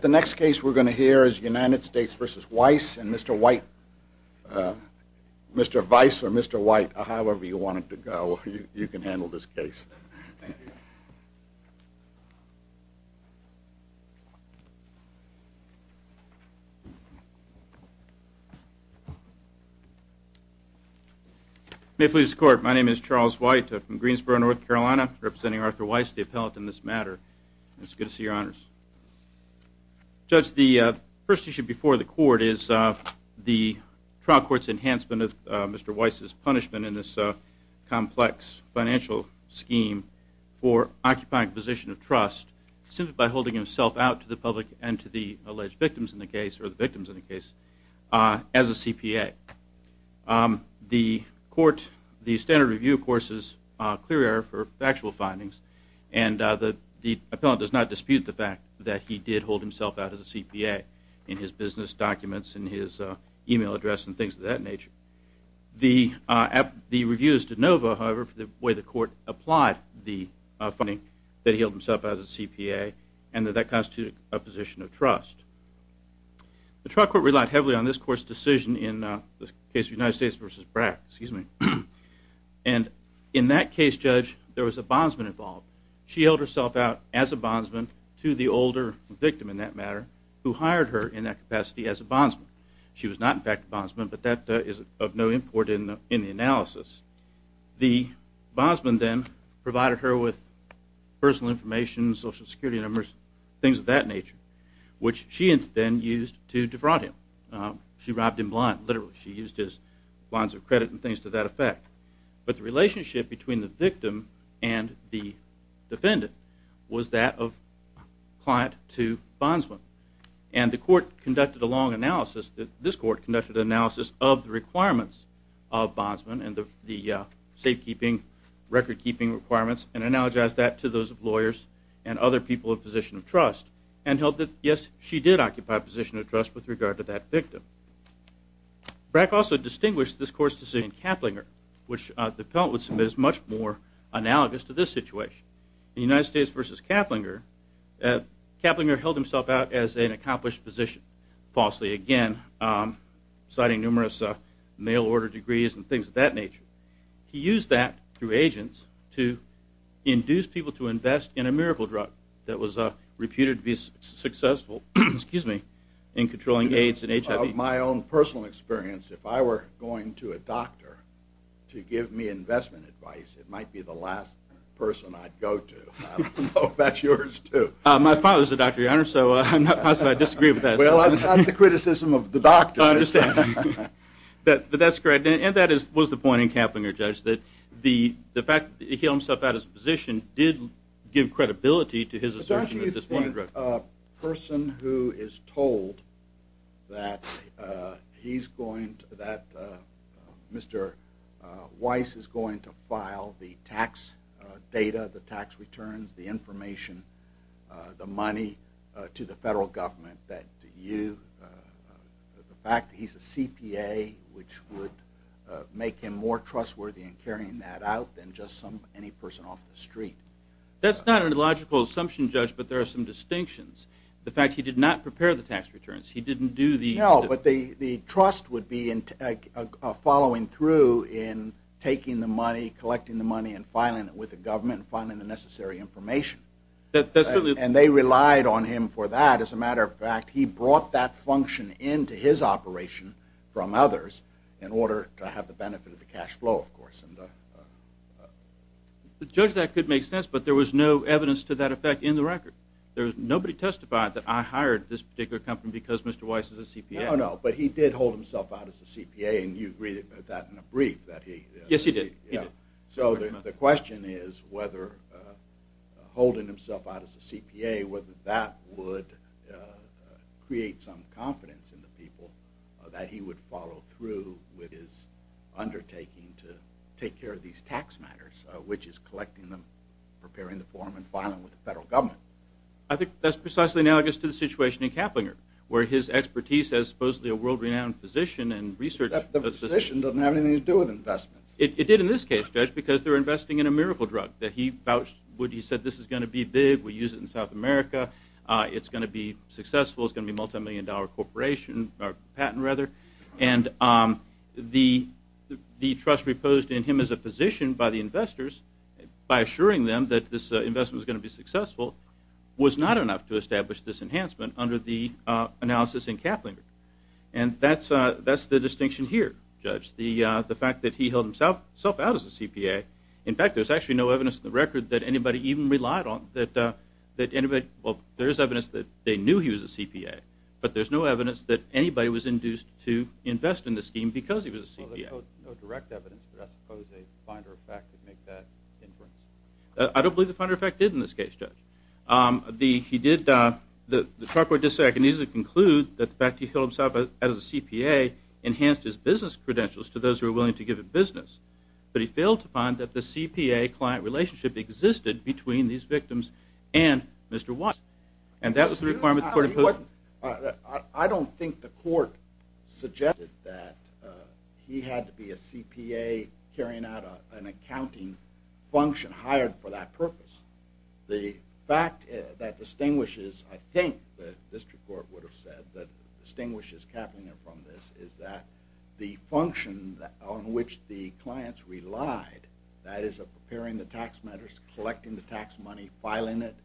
The next case we're going to hear is United States v. Weiss and Mr. Weiss, Mr. Weiss or Mr. Weiss, however you want to go, you can handle this case. May it please the court, my name is Charles White, I'm from Greensboro, North Carolina, representing Arthur Weiss, the appellate in this matter. It's good to see your honors. Judge, the first issue before the court is the trial court's enhancement of Mr. Weiss' punishment in this complex financial scheme for occupying a position of trust simply by holding himself out to the public and to the alleged victims in the case, or the victims in the case, as a CPA. The standard review, of course, is clear error for factual findings and the appellant does not dispute the fact that he did hold himself out as a CPA in his business documents, in his email address and things of that nature. The review is de novo, however, for the way the court applied the finding that he held himself out as a CPA and that that constituted a position of trust. The trial court relied heavily on this court's decision in the case of United States v. Brack, and in that case, Judge, there was a bondsman involved. She held herself out as a bondsman to the older victim, in that matter, who hired her in that capacity as a bondsman. She was not, in fact, a bondsman, but that is of no import in the analysis. The bondsman then provided her with personal information, social security numbers, things of that nature, which she then used to defraud him. She robbed him blind, literally. She used his lines of credit and things to that effect. But the relationship between the victim and the defendant was that of client to bondsman. And the court conducted a long analysis, this court conducted an analysis of the requirements of bondsman and the safekeeping, recordkeeping requirements and analogized that to those lawyers and other people of position of trust and held that, yes, she did occupy a position of trust with regard to that victim. Brack also distinguished this court's decision in Kaplinger, which the appellant would submit as much more analogous to this situation. In the United States versus Kaplinger, Kaplinger held himself out as an accomplished physician, falsely again, citing numerous mail order degrees and things of that nature. He used that through agents to induce people to invest in a miracle drug that was reputed to be successful in controlling AIDS and HIV. Of my own personal experience, if I were going to a doctor to give me investment advice, it might be the last person I'd go to. I don't know if that's yours, too. My father's a doctor, Your Honor, so I'm not positive I'd disagree with that. Well, I'm not the criticism of the doctor. I understand. But that's correct. And that was the point in Kaplinger, Judge, that the fact that he held himself out as a physician did give credibility to his assertion at this point. Isn't a person who is told that he's going to, that Mr. Weiss is going to file the tax data, the tax returns, the information, the money to the federal government, that you, the fact that he's a CPA, which would make him more trustworthy in carrying that out than just any person off the street? That's not an illogical assumption, Judge, but there are some distinctions. The fact he did not prepare the tax returns. He didn't do the... No, but the trust would be following through in taking the money, collecting the money, and filing it with the government and filing the necessary information. That's certainly... And they relied on him for that. As a matter of fact, he brought that function into his operation from others in order to have the benefit of the cash flow, of course. Judge, that could make sense, but there was no evidence to that effect in the record. Nobody testified that I hired this particular company because Mr. Weiss is a CPA. No, no, but he did hold himself out as a CPA, and you agreed with that in a brief that he... Yes, he did. So the question is whether holding himself out as a CPA, whether that would create some confidence in the people that he would follow through with his undertaking to take care of these tax matters, which is collecting them, preparing the form, and filing with the federal government. I think that's precisely analogous to the situation in Kaplinger, where his expertise as supposedly a world-renowned physician and research... Except the physician doesn't have anything to do with investments. It did in this case, Judge, because they were investing in a miracle drug that he vouched... He said, this is going to be big, we use it in South America, it's going to be successful, it's going to be a multimillion-dollar corporation, or patent, rather. And the trust reposed in him as a physician by the investors, by assuring them that this investment was going to be successful, was not enough to establish this enhancement under the analysis in Kaplinger. And that's the distinction here, Judge, the fact that he held himself out as a CPA. In fact, there's actually no evidence in the record that anybody even relied on that anybody... Well, there is evidence that they knew he was a CPA, but there's no evidence that anybody was induced to invest in the scheme because he was a CPA. Well, there's no direct evidence that I suppose a finder of fact would make that inference. I don't believe the finder of fact did in this case, Judge. He did, the charge board did say, I can easily conclude that the fact that he held himself out as a CPA enhanced his business credentials to those who were willing to give him business. But he failed to find that the CPA client relationship existed between these victims and Mr. Watts. And that was the requirement that the court imposed. I don't think the court suggested that he had to be a CPA carrying out an accounting function, hired for that purpose. The fact that distinguishes, I think the district court would have said, that distinguishes Kaplinger from this is that the function on which the clients relied, that is preparing the tax matters, collecting the tax money, filing it,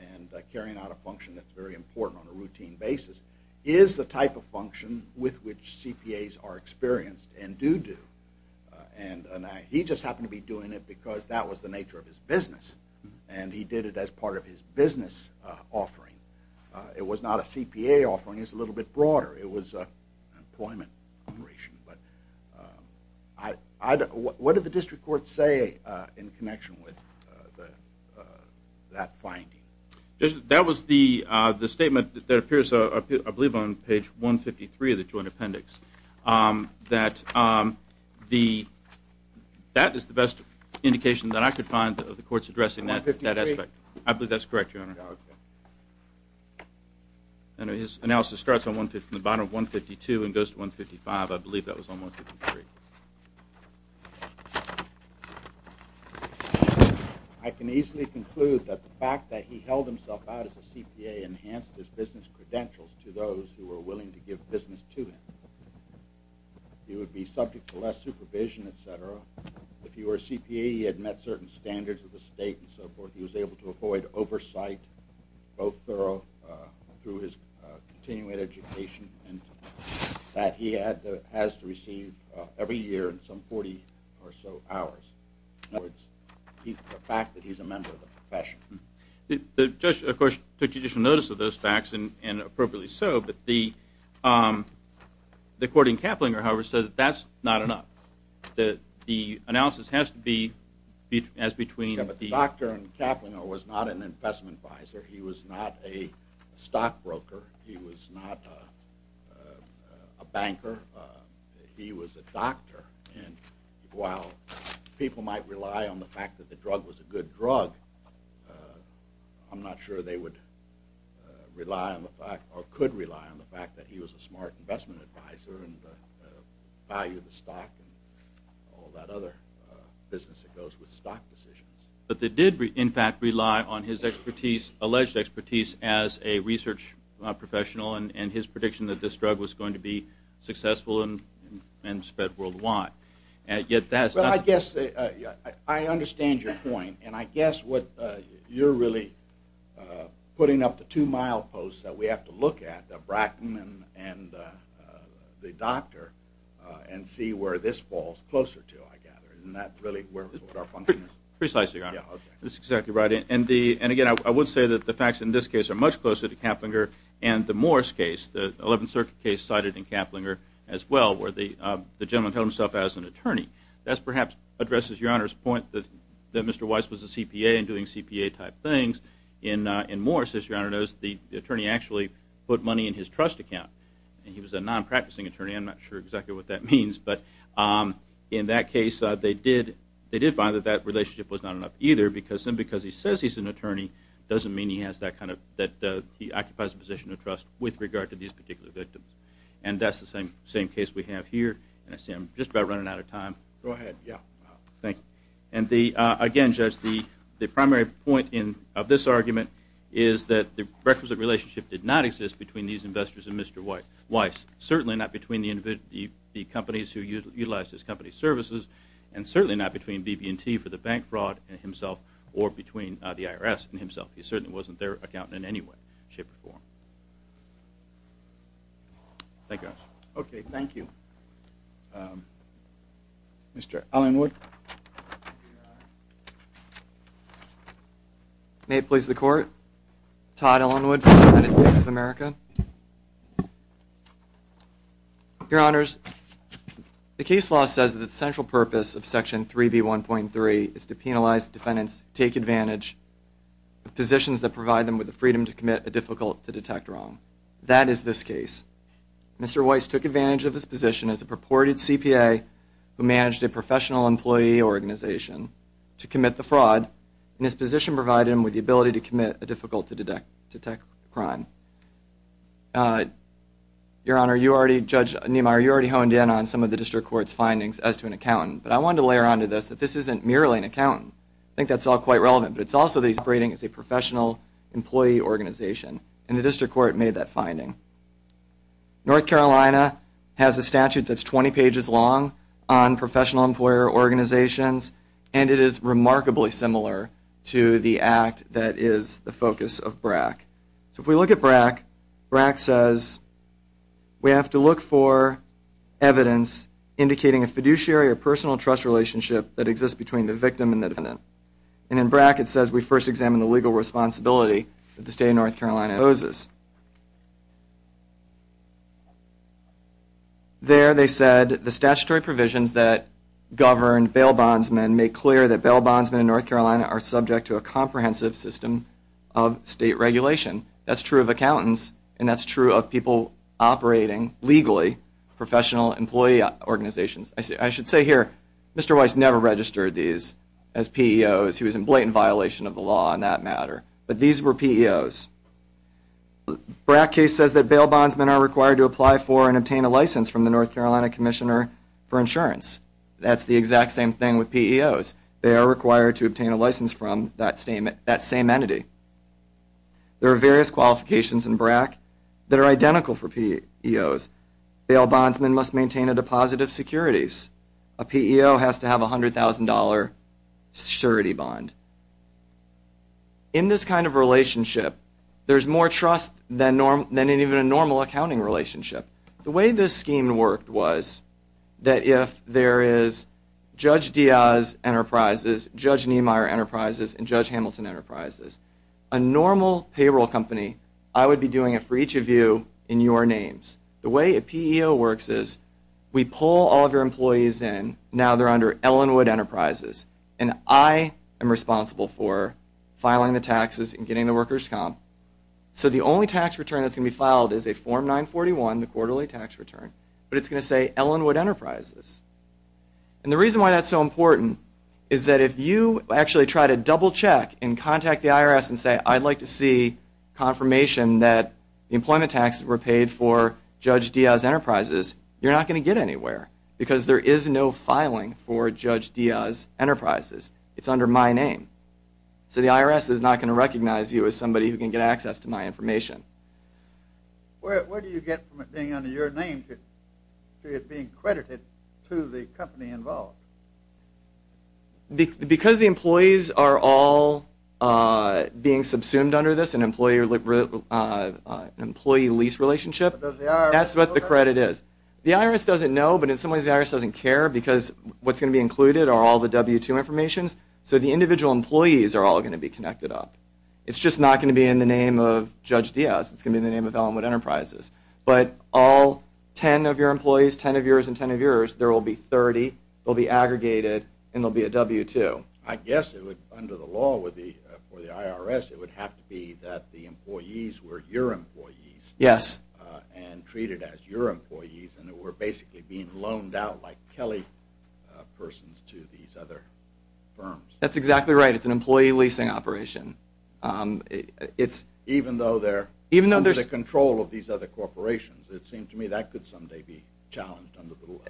and carrying out a function that's very important on a routine basis, is the type of function with which CPAs are experienced and do do. And he just happened to be doing it because that was the nature of his business. And he did it as part of his business offering. It was not a CPA offering, it was a little bit broader. It was an employment operation. But what did the district court say in connection with that finding? That was the statement that appears, I believe, on page 153 of the joint appendix. That is the best indication that I could find of the courts addressing that aspect. I believe that's correct, Your Honor. His analysis starts on the bottom of 152 and goes to 155. I believe that was on 153. I can easily conclude that the fact that he held himself out as a CPA enhanced his business credentials to those who were willing to give business to him. He would be subject to less supervision, et cetera. If he were a CPA, he had met certain standards of the state and so forth. He was able to avoid oversight, both thorough through his continuing education and that he has to receive every year in some 40 or so hours. The fact that he's a member of the profession. The judge, of course, took judicial notice of those facts and appropriately so. But the court in Kaplinger, however, said that that's not enough. The analysis has to be as between... But the doctor in Kaplinger was not an investment advisor. He was not a stockbroker. He was not a banker. He was a doctor. And while people might rely on the fact that the drug was a good drug, I'm not sure they would rely on the fact or could rely on the fact that he was a smart investment advisor and the value of the stock and all that other business that goes with stock decisions. But they did, in fact, rely on his expertise, alleged expertise, as a research professional and his prediction that this drug was going to be successful and spread worldwide. Yet that's not... I understand your point, and I guess what you're really putting up the two-mile post that we have to look at, the Brackman and the doctor, and see where this falls closer to, I gather. Isn't that really where our function is? Precisely, Your Honor. This is exactly right. And again, I would say that the facts in this case are much closer to Kaplinger and the Morris case, the 11th Circuit case cited in Kaplinger as well, where the gentleman held himself as an attorney. That perhaps addresses Your Honor's point that Mr. Weiss was a CPA and doing CPA-type things. In Morris, as Your Honor knows, the attorney actually put money in his trust account, and he was a non-practicing attorney. I'm not sure exactly what that means. But in that case, they did find that that relationship was not enough either, because simply because he says he's an attorney doesn't mean he has that kind of... that he occupies a position of trust with regard to these particular victims. And that's the same case we have here. And I see I'm just about running out of time. Go ahead, yeah. Thank you. And again, Judge, the primary point of this argument is that the requisite relationship did not exist between these investors and Mr. Weiss. Certainly not between the companies who utilized his company's services, and certainly not between BB&T for the bank fraud and himself, or between the IRS and himself. He certainly wasn't their accountant in any way, shape, or form. Thank you, Your Honor. Okay, thank you. Mr. Ellenwood. May it please the Court. Todd Ellenwood from United States of America. Your Honors, the case law says that the central purpose of Section 3B1.3 is to penalize defendants, take advantage of positions that provide them with the freedom to commit a difficult to detect wrong. That is this case. Mr. Weiss took advantage of his position as a purported CPA who managed a professional employee organization to commit the fraud. And his position provided him with the ability to commit a difficult to detect crime. Your Honor, Judge Niemeyer, you already honed in on some of the District Court's findings as to an accountant. But I wanted to layer onto this that this isn't merely an accountant. I think that's all quite relevant. But it's also that he's operating as a professional employee organization. And the District Court made that finding. North Carolina has a statute that's 20 pages long on professional employer organizations, and it is remarkably similar to the act that is the focus of BRAC. So if we look at BRAC, BRAC says we have to look for evidence indicating a fiduciary or personal trust relationship that exists between the victim and the defendant. And in BRAC it says we first examine the legal responsibility that the State of North Carolina imposes. There they said the statutory provisions that govern bail bondsmen make clear that bail bondsmen in North Carolina are subject to a comprehensive system of state regulation. That's true of accountants, and that's true of people operating legally professional employee organizations. I should say here, Mr. Weiss never registered these as PEOs. He was in blatant violation of the law on that matter. But these were PEOs. BRAC case says that bail bondsmen are required to apply for and obtain a license from the North Carolina Commissioner for Insurance. That's the exact same thing with PEOs. They are required to obtain a license from that same entity. There are various qualifications in BRAC that are identical for PEOs. Bail bondsmen must maintain a deposit of securities. A PEO has to have a $100,000 surety bond. In this kind of relationship, there's more trust than in even a normal accounting relationship. The way this scheme worked was that if there is Judge Diaz Enterprises, Judge Niemeyer Enterprises, and Judge Hamilton Enterprises, a normal payroll company, I would be doing it for each of you in your names. The way a PEO works is we pull all of your employees in, now they're under Ellenwood Enterprises, and I am responsible for filing the taxes and getting the workers comp. So the only tax return that's going to be filed is a Form 941, the quarterly tax return, but it's going to say Ellenwood Enterprises. And the reason why that's so important is that if you actually try to double check and contact the IRS and say, I'd like to see confirmation that the employment taxes were paid for Judge Diaz Enterprises, you're not going to get anywhere because there is no filing for Judge Diaz Enterprises. It's under my name. So the IRS is not going to recognize you as somebody who can get access to my information. Where do you get from it being under your name to it being credited to the company involved? Because the employees are all being subsumed under this employee lease relationship, that's what the credit is. The IRS doesn't know, but in some ways the IRS doesn't care because what's going to be included are all the W-2 informations, so the individual employees are all going to be connected up. It's just not going to be in the name of Judge Diaz, it's going to be in the name of Ellenwood Enterprises. But all 10 of your employees, 10 of yours and 10 of yours, there will be 30, they'll be aggregated, and there will be a W-2. So I guess under the law for the IRS it would have to be that the employees were your employees and treated as your employees and were basically being loaned out like Kelly persons to these other firms. That's exactly right, it's an employee leasing operation. Even though they're under the control of these other corporations, it seemed to me that could someday be challenged under the law.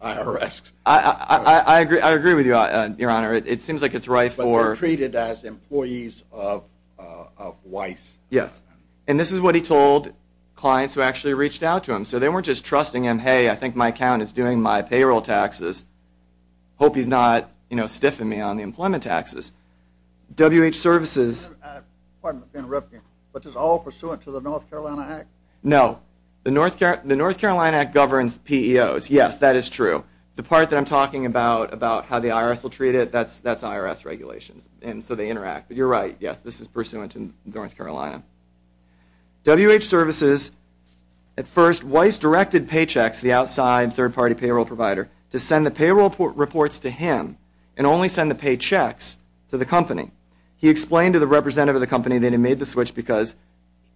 I agree with you, Your Honor, it seems like it's right for... But they're treated as employees of Weiss. Yes, and this is what he told clients who actually reached out to him. So they weren't just trusting him, hey, I think my account is doing my payroll taxes, hope he's not stiffing me on the employment taxes. WH Services... Pardon the interruption, but this is all pursuant to the North Carolina Act? No, the North Carolina Act governs PEOs, yes, that is true. The part that I'm talking about, about how the IRS will treat it, that's IRS regulations, and so they interact, but you're right, yes, this is pursuant to North Carolina. WH Services, at first, Weiss directed paychecks, the outside third-party payroll provider, to send the payroll reports to him and only send the paychecks to the company. He explained to the representative of the company that he made the switch because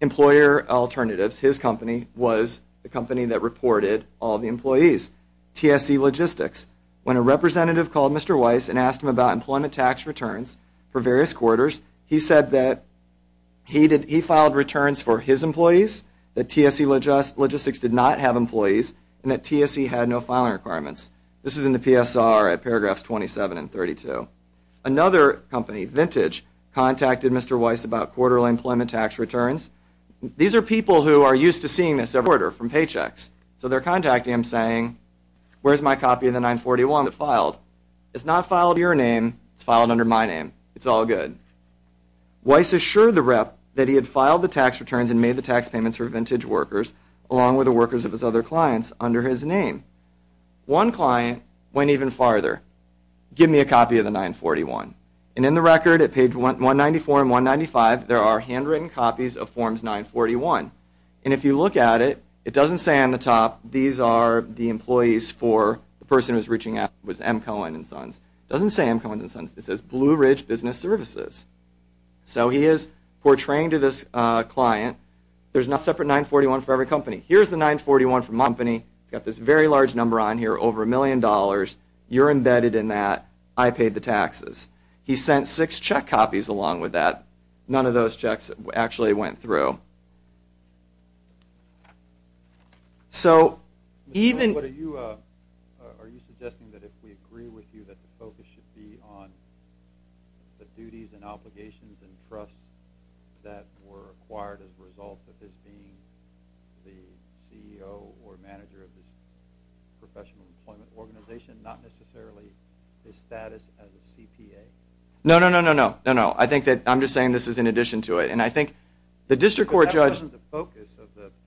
Employer Alternatives, his company, was the company that reported all the employees. TSE Logistics, when a representative called Mr. Weiss and asked him about employment tax returns for various quarters, he said that he filed returns for his employees, that TSE Logistics did not have employees, and that TSE had no filing requirements. This is in the PSR at paragraphs 27 and 32. Another company, Vintage, contacted Mr. Weiss about quarterly employment tax returns. These are people who are used to seeing this every quarter from paychecks, so they're contacting him saying, where's my copy of the 941 that filed? It's not filed under your name, it's filed under my name, it's all good. Weiss assured the rep that he had filed the tax returns and made the tax payments for Vintage workers, along with the workers of his other clients, under his name. One client went even farther. Give me a copy of the 941. And in the record at page 194 and 195, there are handwritten copies of Forms 941. And if you look at it, it doesn't say on the top, these are the employees for the person who was reaching out, it was M. Cohen and Sons. It doesn't say M. Cohen and Sons, it says Blue Ridge Business Services. So he is portraying to this client, there's no separate 941 for every company. Here's the 941 for my company, it's got this very large number on here, over a million dollars, you're embedded in that, I paid the taxes. He sent six check copies along with that. None of those checks actually went through. So even... Are you suggesting that if we agree with you that the focus should be on the duties and obligations and trusts that were acquired as a result of this being the CEO or manager of this professional employment organization, not necessarily his status as a CPA? No, no, no, no, no. I think that I'm just saying this is in addition to it. And I think the district court judge...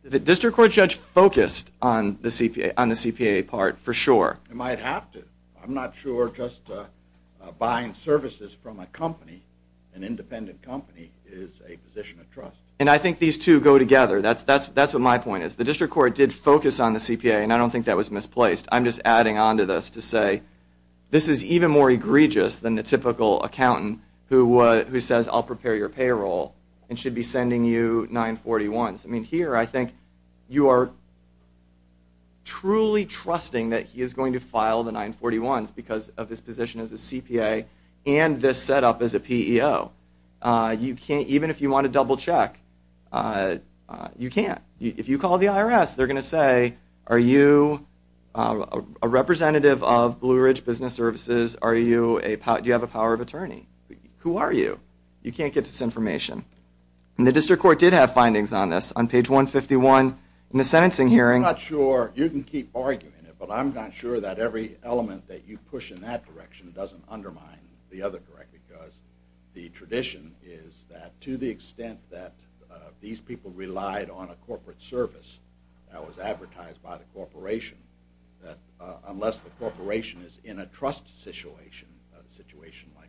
The district court judge focused on the CPA part for sure. It might have to. I'm not sure just buying services from a company, an independent company, is a position of trust. And I think these two go together. That's what my point is. The district court did focus on the CPA and I don't think that was misplaced. I'm just adding on to this to say this is even more egregious than the typical accountant who says, I'll prepare your payroll and should be sending you 941s. I mean, here I think you are truly trusting that he is going to file the 941s because of his position as a CPA and this setup as a PEO. Even if you want to double check, you can't. If you call the IRS, they're going to say, are you a representative of Blue Ridge Business Services? Do you have a power of attorney? Who are you? You can't get this information. And the district court did have findings on this. On page 151 in the sentencing hearing... I'm not sure. You can keep arguing it. But I'm not sure that every element that you push in that direction doesn't undermine the other direction because the tradition is that to the extent that these people relied on a corporate service that was advertised by the corporation, that unless the corporation is in a trust situation, a situation like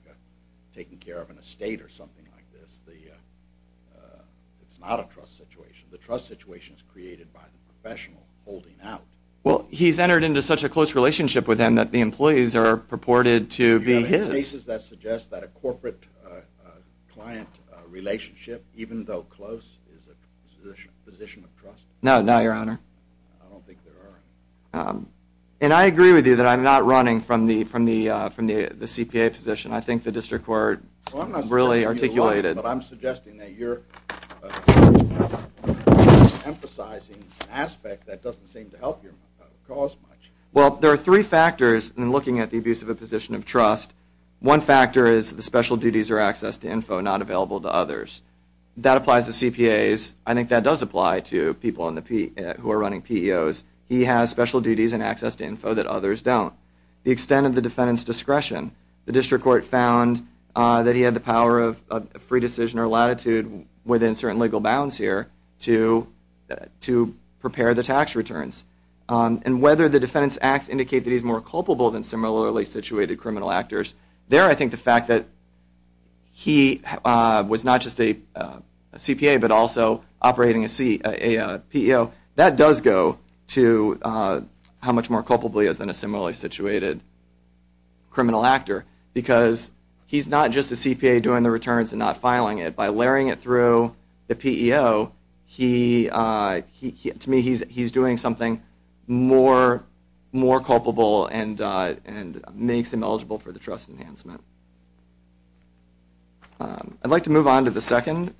taking care of an estate or something like this, it's not a trust situation. The trust situation is created by the professional holding out. Well, he's entered into such a close relationship with him that the employees are purported to be his. Are there cases that suggest that a corporate client relationship, even though close, is a position of trust? No, not your Honor. I don't think there are. And I agree with you that I'm not running from the CPA position. Well, I'm not saying you're wrong, but I'm suggesting that you're emphasizing an aspect that doesn't seem to help your cause much. Well, there are three factors in looking at the abuse of a position of trust. One factor is the special duties or access to info not available to others. That applies to CPAs. I think that does apply to people who are running PEOs. He has special duties and access to info that others don't. The extent of the defendant's discretion. The district court found that he had the power of free decision or latitude within certain legal bounds here to prepare the tax returns. And whether the defendant's acts indicate that he's more culpable than similarly situated criminal actors, there I think the fact that he was not just a CPA but also operating a PEO, that does go to how much more culpably he is than a similarly situated criminal actor. Because he's not just a CPA doing the returns and not filing it. By layering it through the PEO, to me he's doing something more culpable and makes him eligible for the trust enhancement. I'd like to move on to the second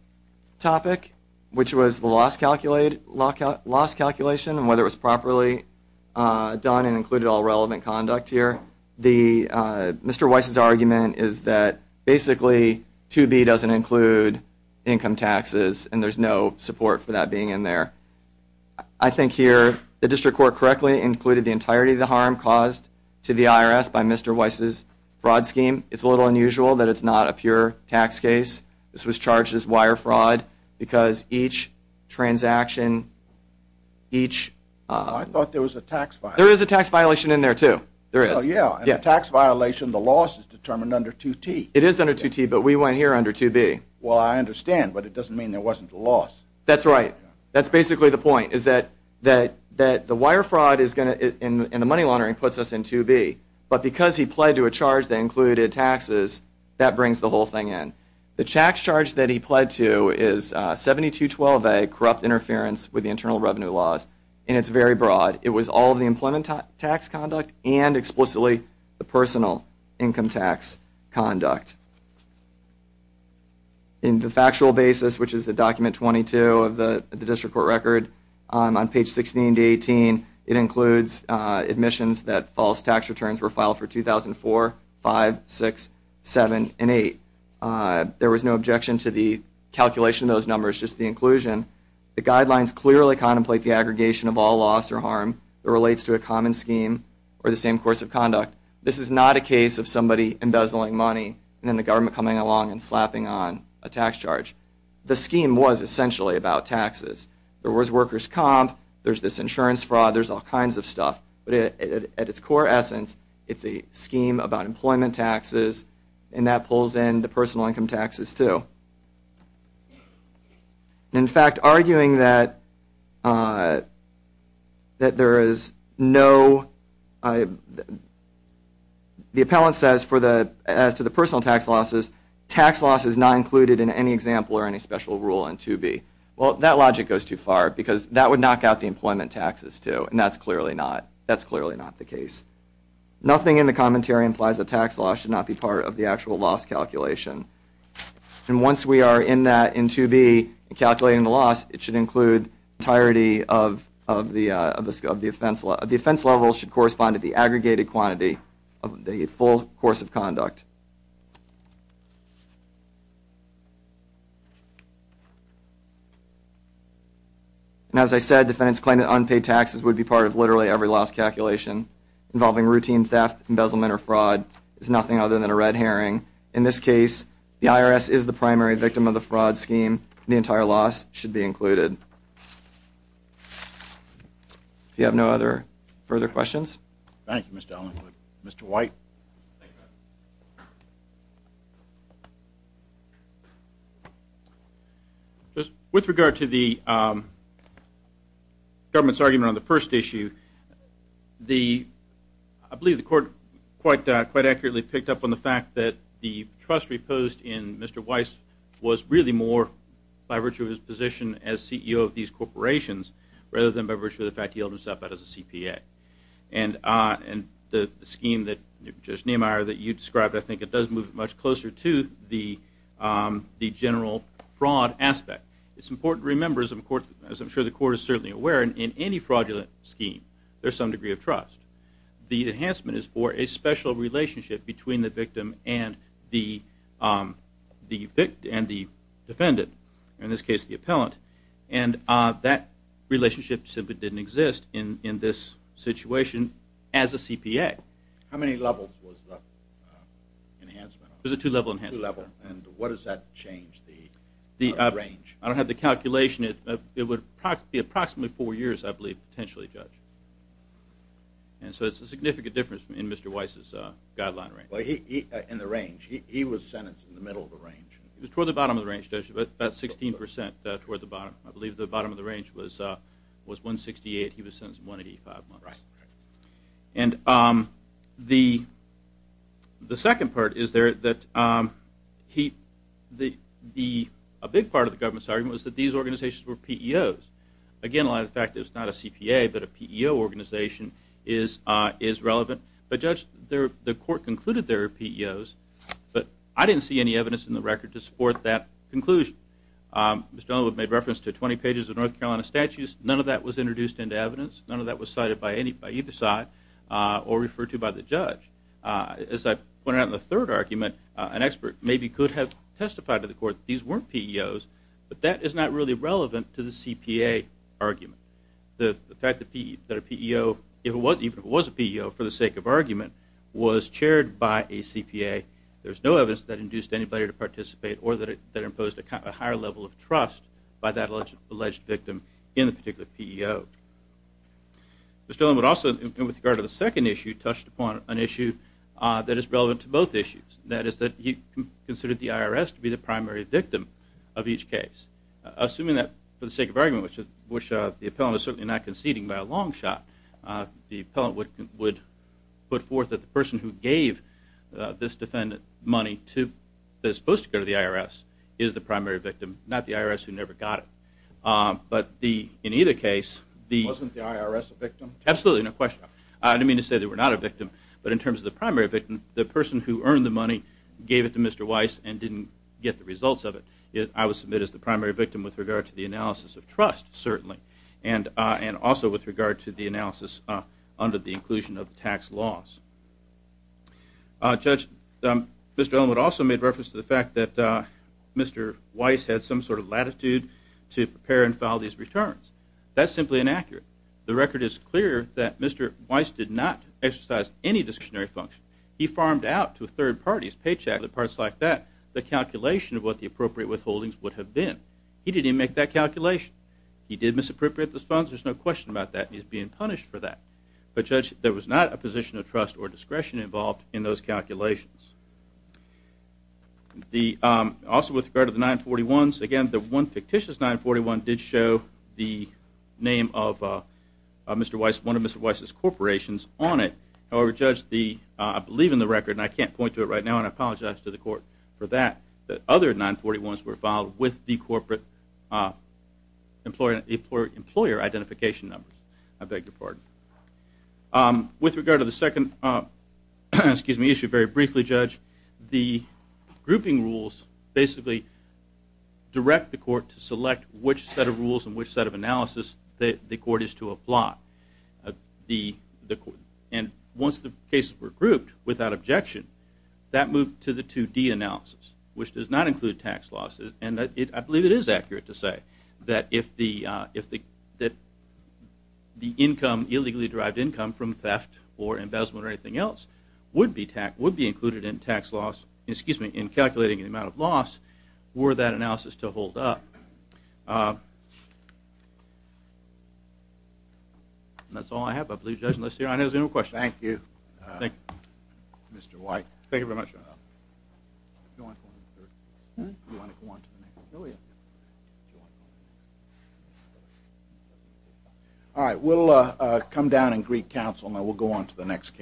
topic, which was the loss calculation and whether it was properly done and included all relevant conduct here. Mr. Weiss's argument is that basically 2B doesn't include income taxes and there's no support for that being in there. I think here the district court correctly included the entirety of the harm caused to the IRS by Mr. Weiss's fraud scheme. It's a little unusual that it's not a pure tax case. This was charged as wire fraud because each transaction, each... I thought there was a tax violation. There is a tax violation in there too. There is. In a tax violation, the loss is determined under 2T. It is under 2T, but we went here under 2B. Well, I understand, but it doesn't mean there wasn't a loss. That's right. That's basically the point, is that the wire fraud and the money laundering puts us in 2B. But because he pled to a charge that included taxes, that brings the whole thing in. The tax charge that he pled to is 7212A, corrupt interference with the internal revenue laws, and it's very broad. It was all of the employment tax conduct and explicitly the personal income tax conduct. In the factual basis, which is the document 22 of the district court record, on page 16 to 18, it includes admissions that false tax returns were filed for 2004, 5, 6, 7, and 8. There was no objection to the calculation of those numbers, just the inclusion. The guidelines clearly contemplate the aggregation of all loss or harm that relates to a common scheme or the same course of conduct. This is not a case of somebody embezzling money and then the government coming along and slapping on a tax charge. The scheme was essentially about taxes. There was workers' comp. There's this insurance fraud. There's all kinds of stuff. But at its core essence, it's a scheme about employment taxes, and that pulls in the personal income taxes too. In fact, arguing that there is no – the appellant says as to the personal tax losses, tax loss is not included in any example or any special rule in 2B. Well, that logic goes too far because that would knock out the employment taxes too, and that's clearly not the case. Nothing in the commentary implies that tax loss should not be part of the actual loss calculation. And once we are in that in 2B and calculating the loss, it should include the entirety of the offense. The offense level should correspond to the aggregated quantity of the full course of conduct. And as I said, defendants claim that unpaid taxes would be part of literally every loss calculation involving routine theft, embezzlement, or fraud. It's nothing other than a red herring. In this case, the IRS is the primary victim of the fraud scheme. The entire loss should be included. Do you have no other further questions? Thank you, Mr. Allen. Mr. White? With regard to the government's argument on the first issue, I believe the court quite accurately picked up on the fact that the trust reposed in Mr. Weiss was really more by virtue of his position as CEO of these corporations rather than by virtue of the fact he held himself out as a CPA. And the scheme that, Judge Neimeyer, that you described, I think it does move much closer to the general fraud aspect. It's important to remember, as I'm sure the court is certainly aware, in any fraudulent scheme there's some degree of trust. The enhancement is for a special relationship between the victim and the defendant, in this case the appellant. And that relationship simply didn't exist in this situation as a CPA. How many levels was the enhancement on? It was a two-level enhancement. Two-level. And what does that change, the range? I don't have the calculation. It would be approximately four years, I believe, potentially, Judge. And so it's a significant difference in Mr. Weiss's guideline range. In the range. He was sentenced in the middle of the range. It was toward the bottom of the range, Judge, about 16% toward the bottom. I believe the bottom of the range was 168. He was sentenced 185 months. And the second part is that a big part of the government's argument was that these organizations were PEOs. Again, a lot of the fact that it's not a CPA but a PEO organization is relevant. But, Judge, the court concluded they were PEOs, but I didn't see any evidence in the record to support that conclusion. Mr. Dunlap made reference to 20 pages of North Carolina statutes. None of that was introduced into evidence. None of that was cited by either side or referred to by the judge. As I pointed out in the third argument, an expert maybe could have testified to the court that these weren't PEOs, but that is not really relevant to the CPA argument. The fact that a PEO, even if it was a PEO, for the sake of argument, was chaired by a CPA, there's no evidence that induced anybody to participate or that it imposed a higher level of trust by that alleged victim in the particular PEO. Mr. Dunlap also, with regard to the second issue, touched upon an issue that is relevant to both issues, and that is that he considered the IRS to be the primary victim of each case. Assuming that, for the sake of argument, which the appellant is certainly not conceding by a long shot, the appellant would put forth that the person who gave this defendant money that is supposed to go to the IRS is the primary victim, not the IRS who never got it. But in either case... Wasn't the IRS a victim? Absolutely, no question. I don't mean to say they were not a victim, but in terms of the primary victim, the person who earned the money gave it to Mr. Weiss and didn't get the results of it. I would submit as the primary victim with regard to the analysis of trust, certainly, and also with regard to the analysis under the inclusion of tax laws. Judge, Mr. Elwood also made reference to the fact that Mr. Weiss had some sort of latitude to prepare and file these returns. That's simply inaccurate. The record is clear that Mr. Weiss did not exercise any discretionary function. He farmed out to third parties, paychecks and parts like that, the calculation of what the appropriate withholdings would have been. He didn't make that calculation. He did misappropriate those funds, there's no question about that, and he's being punished for that. But, Judge, there was not a position of trust or discretion involved in those calculations. Also, with regard to the 941s, again, the one fictitious 941 did show the name of one of Mr. Weiss's corporations on it. However, Judge, I believe in the record, and I can't point to it right now, and I apologize to the court for that, that other 941s were filed with the corporate employer identification numbers. I beg your pardon. With regard to the second issue very briefly, Judge, the grouping rules basically direct the court to select which set of rules and which set of analysis the court is to apply. And once the cases were grouped without objection, that moved to the 2D analysis, which does not include tax losses. And I believe it is accurate to say that if the income, illegally derived income from theft or embezzlement or anything else, would be included in calculating the amount of loss, were that analysis to hold up. That's all I have, I believe, Judge, unless there are any other questions. Thank you, Mr. White. Thank you very much. Do you want to go on to the next case? Do you want to go on to the next case? Oh, yeah. Do you want to go on to the next case? All right. We'll come down in Greek Council, and then we'll go on to the next case.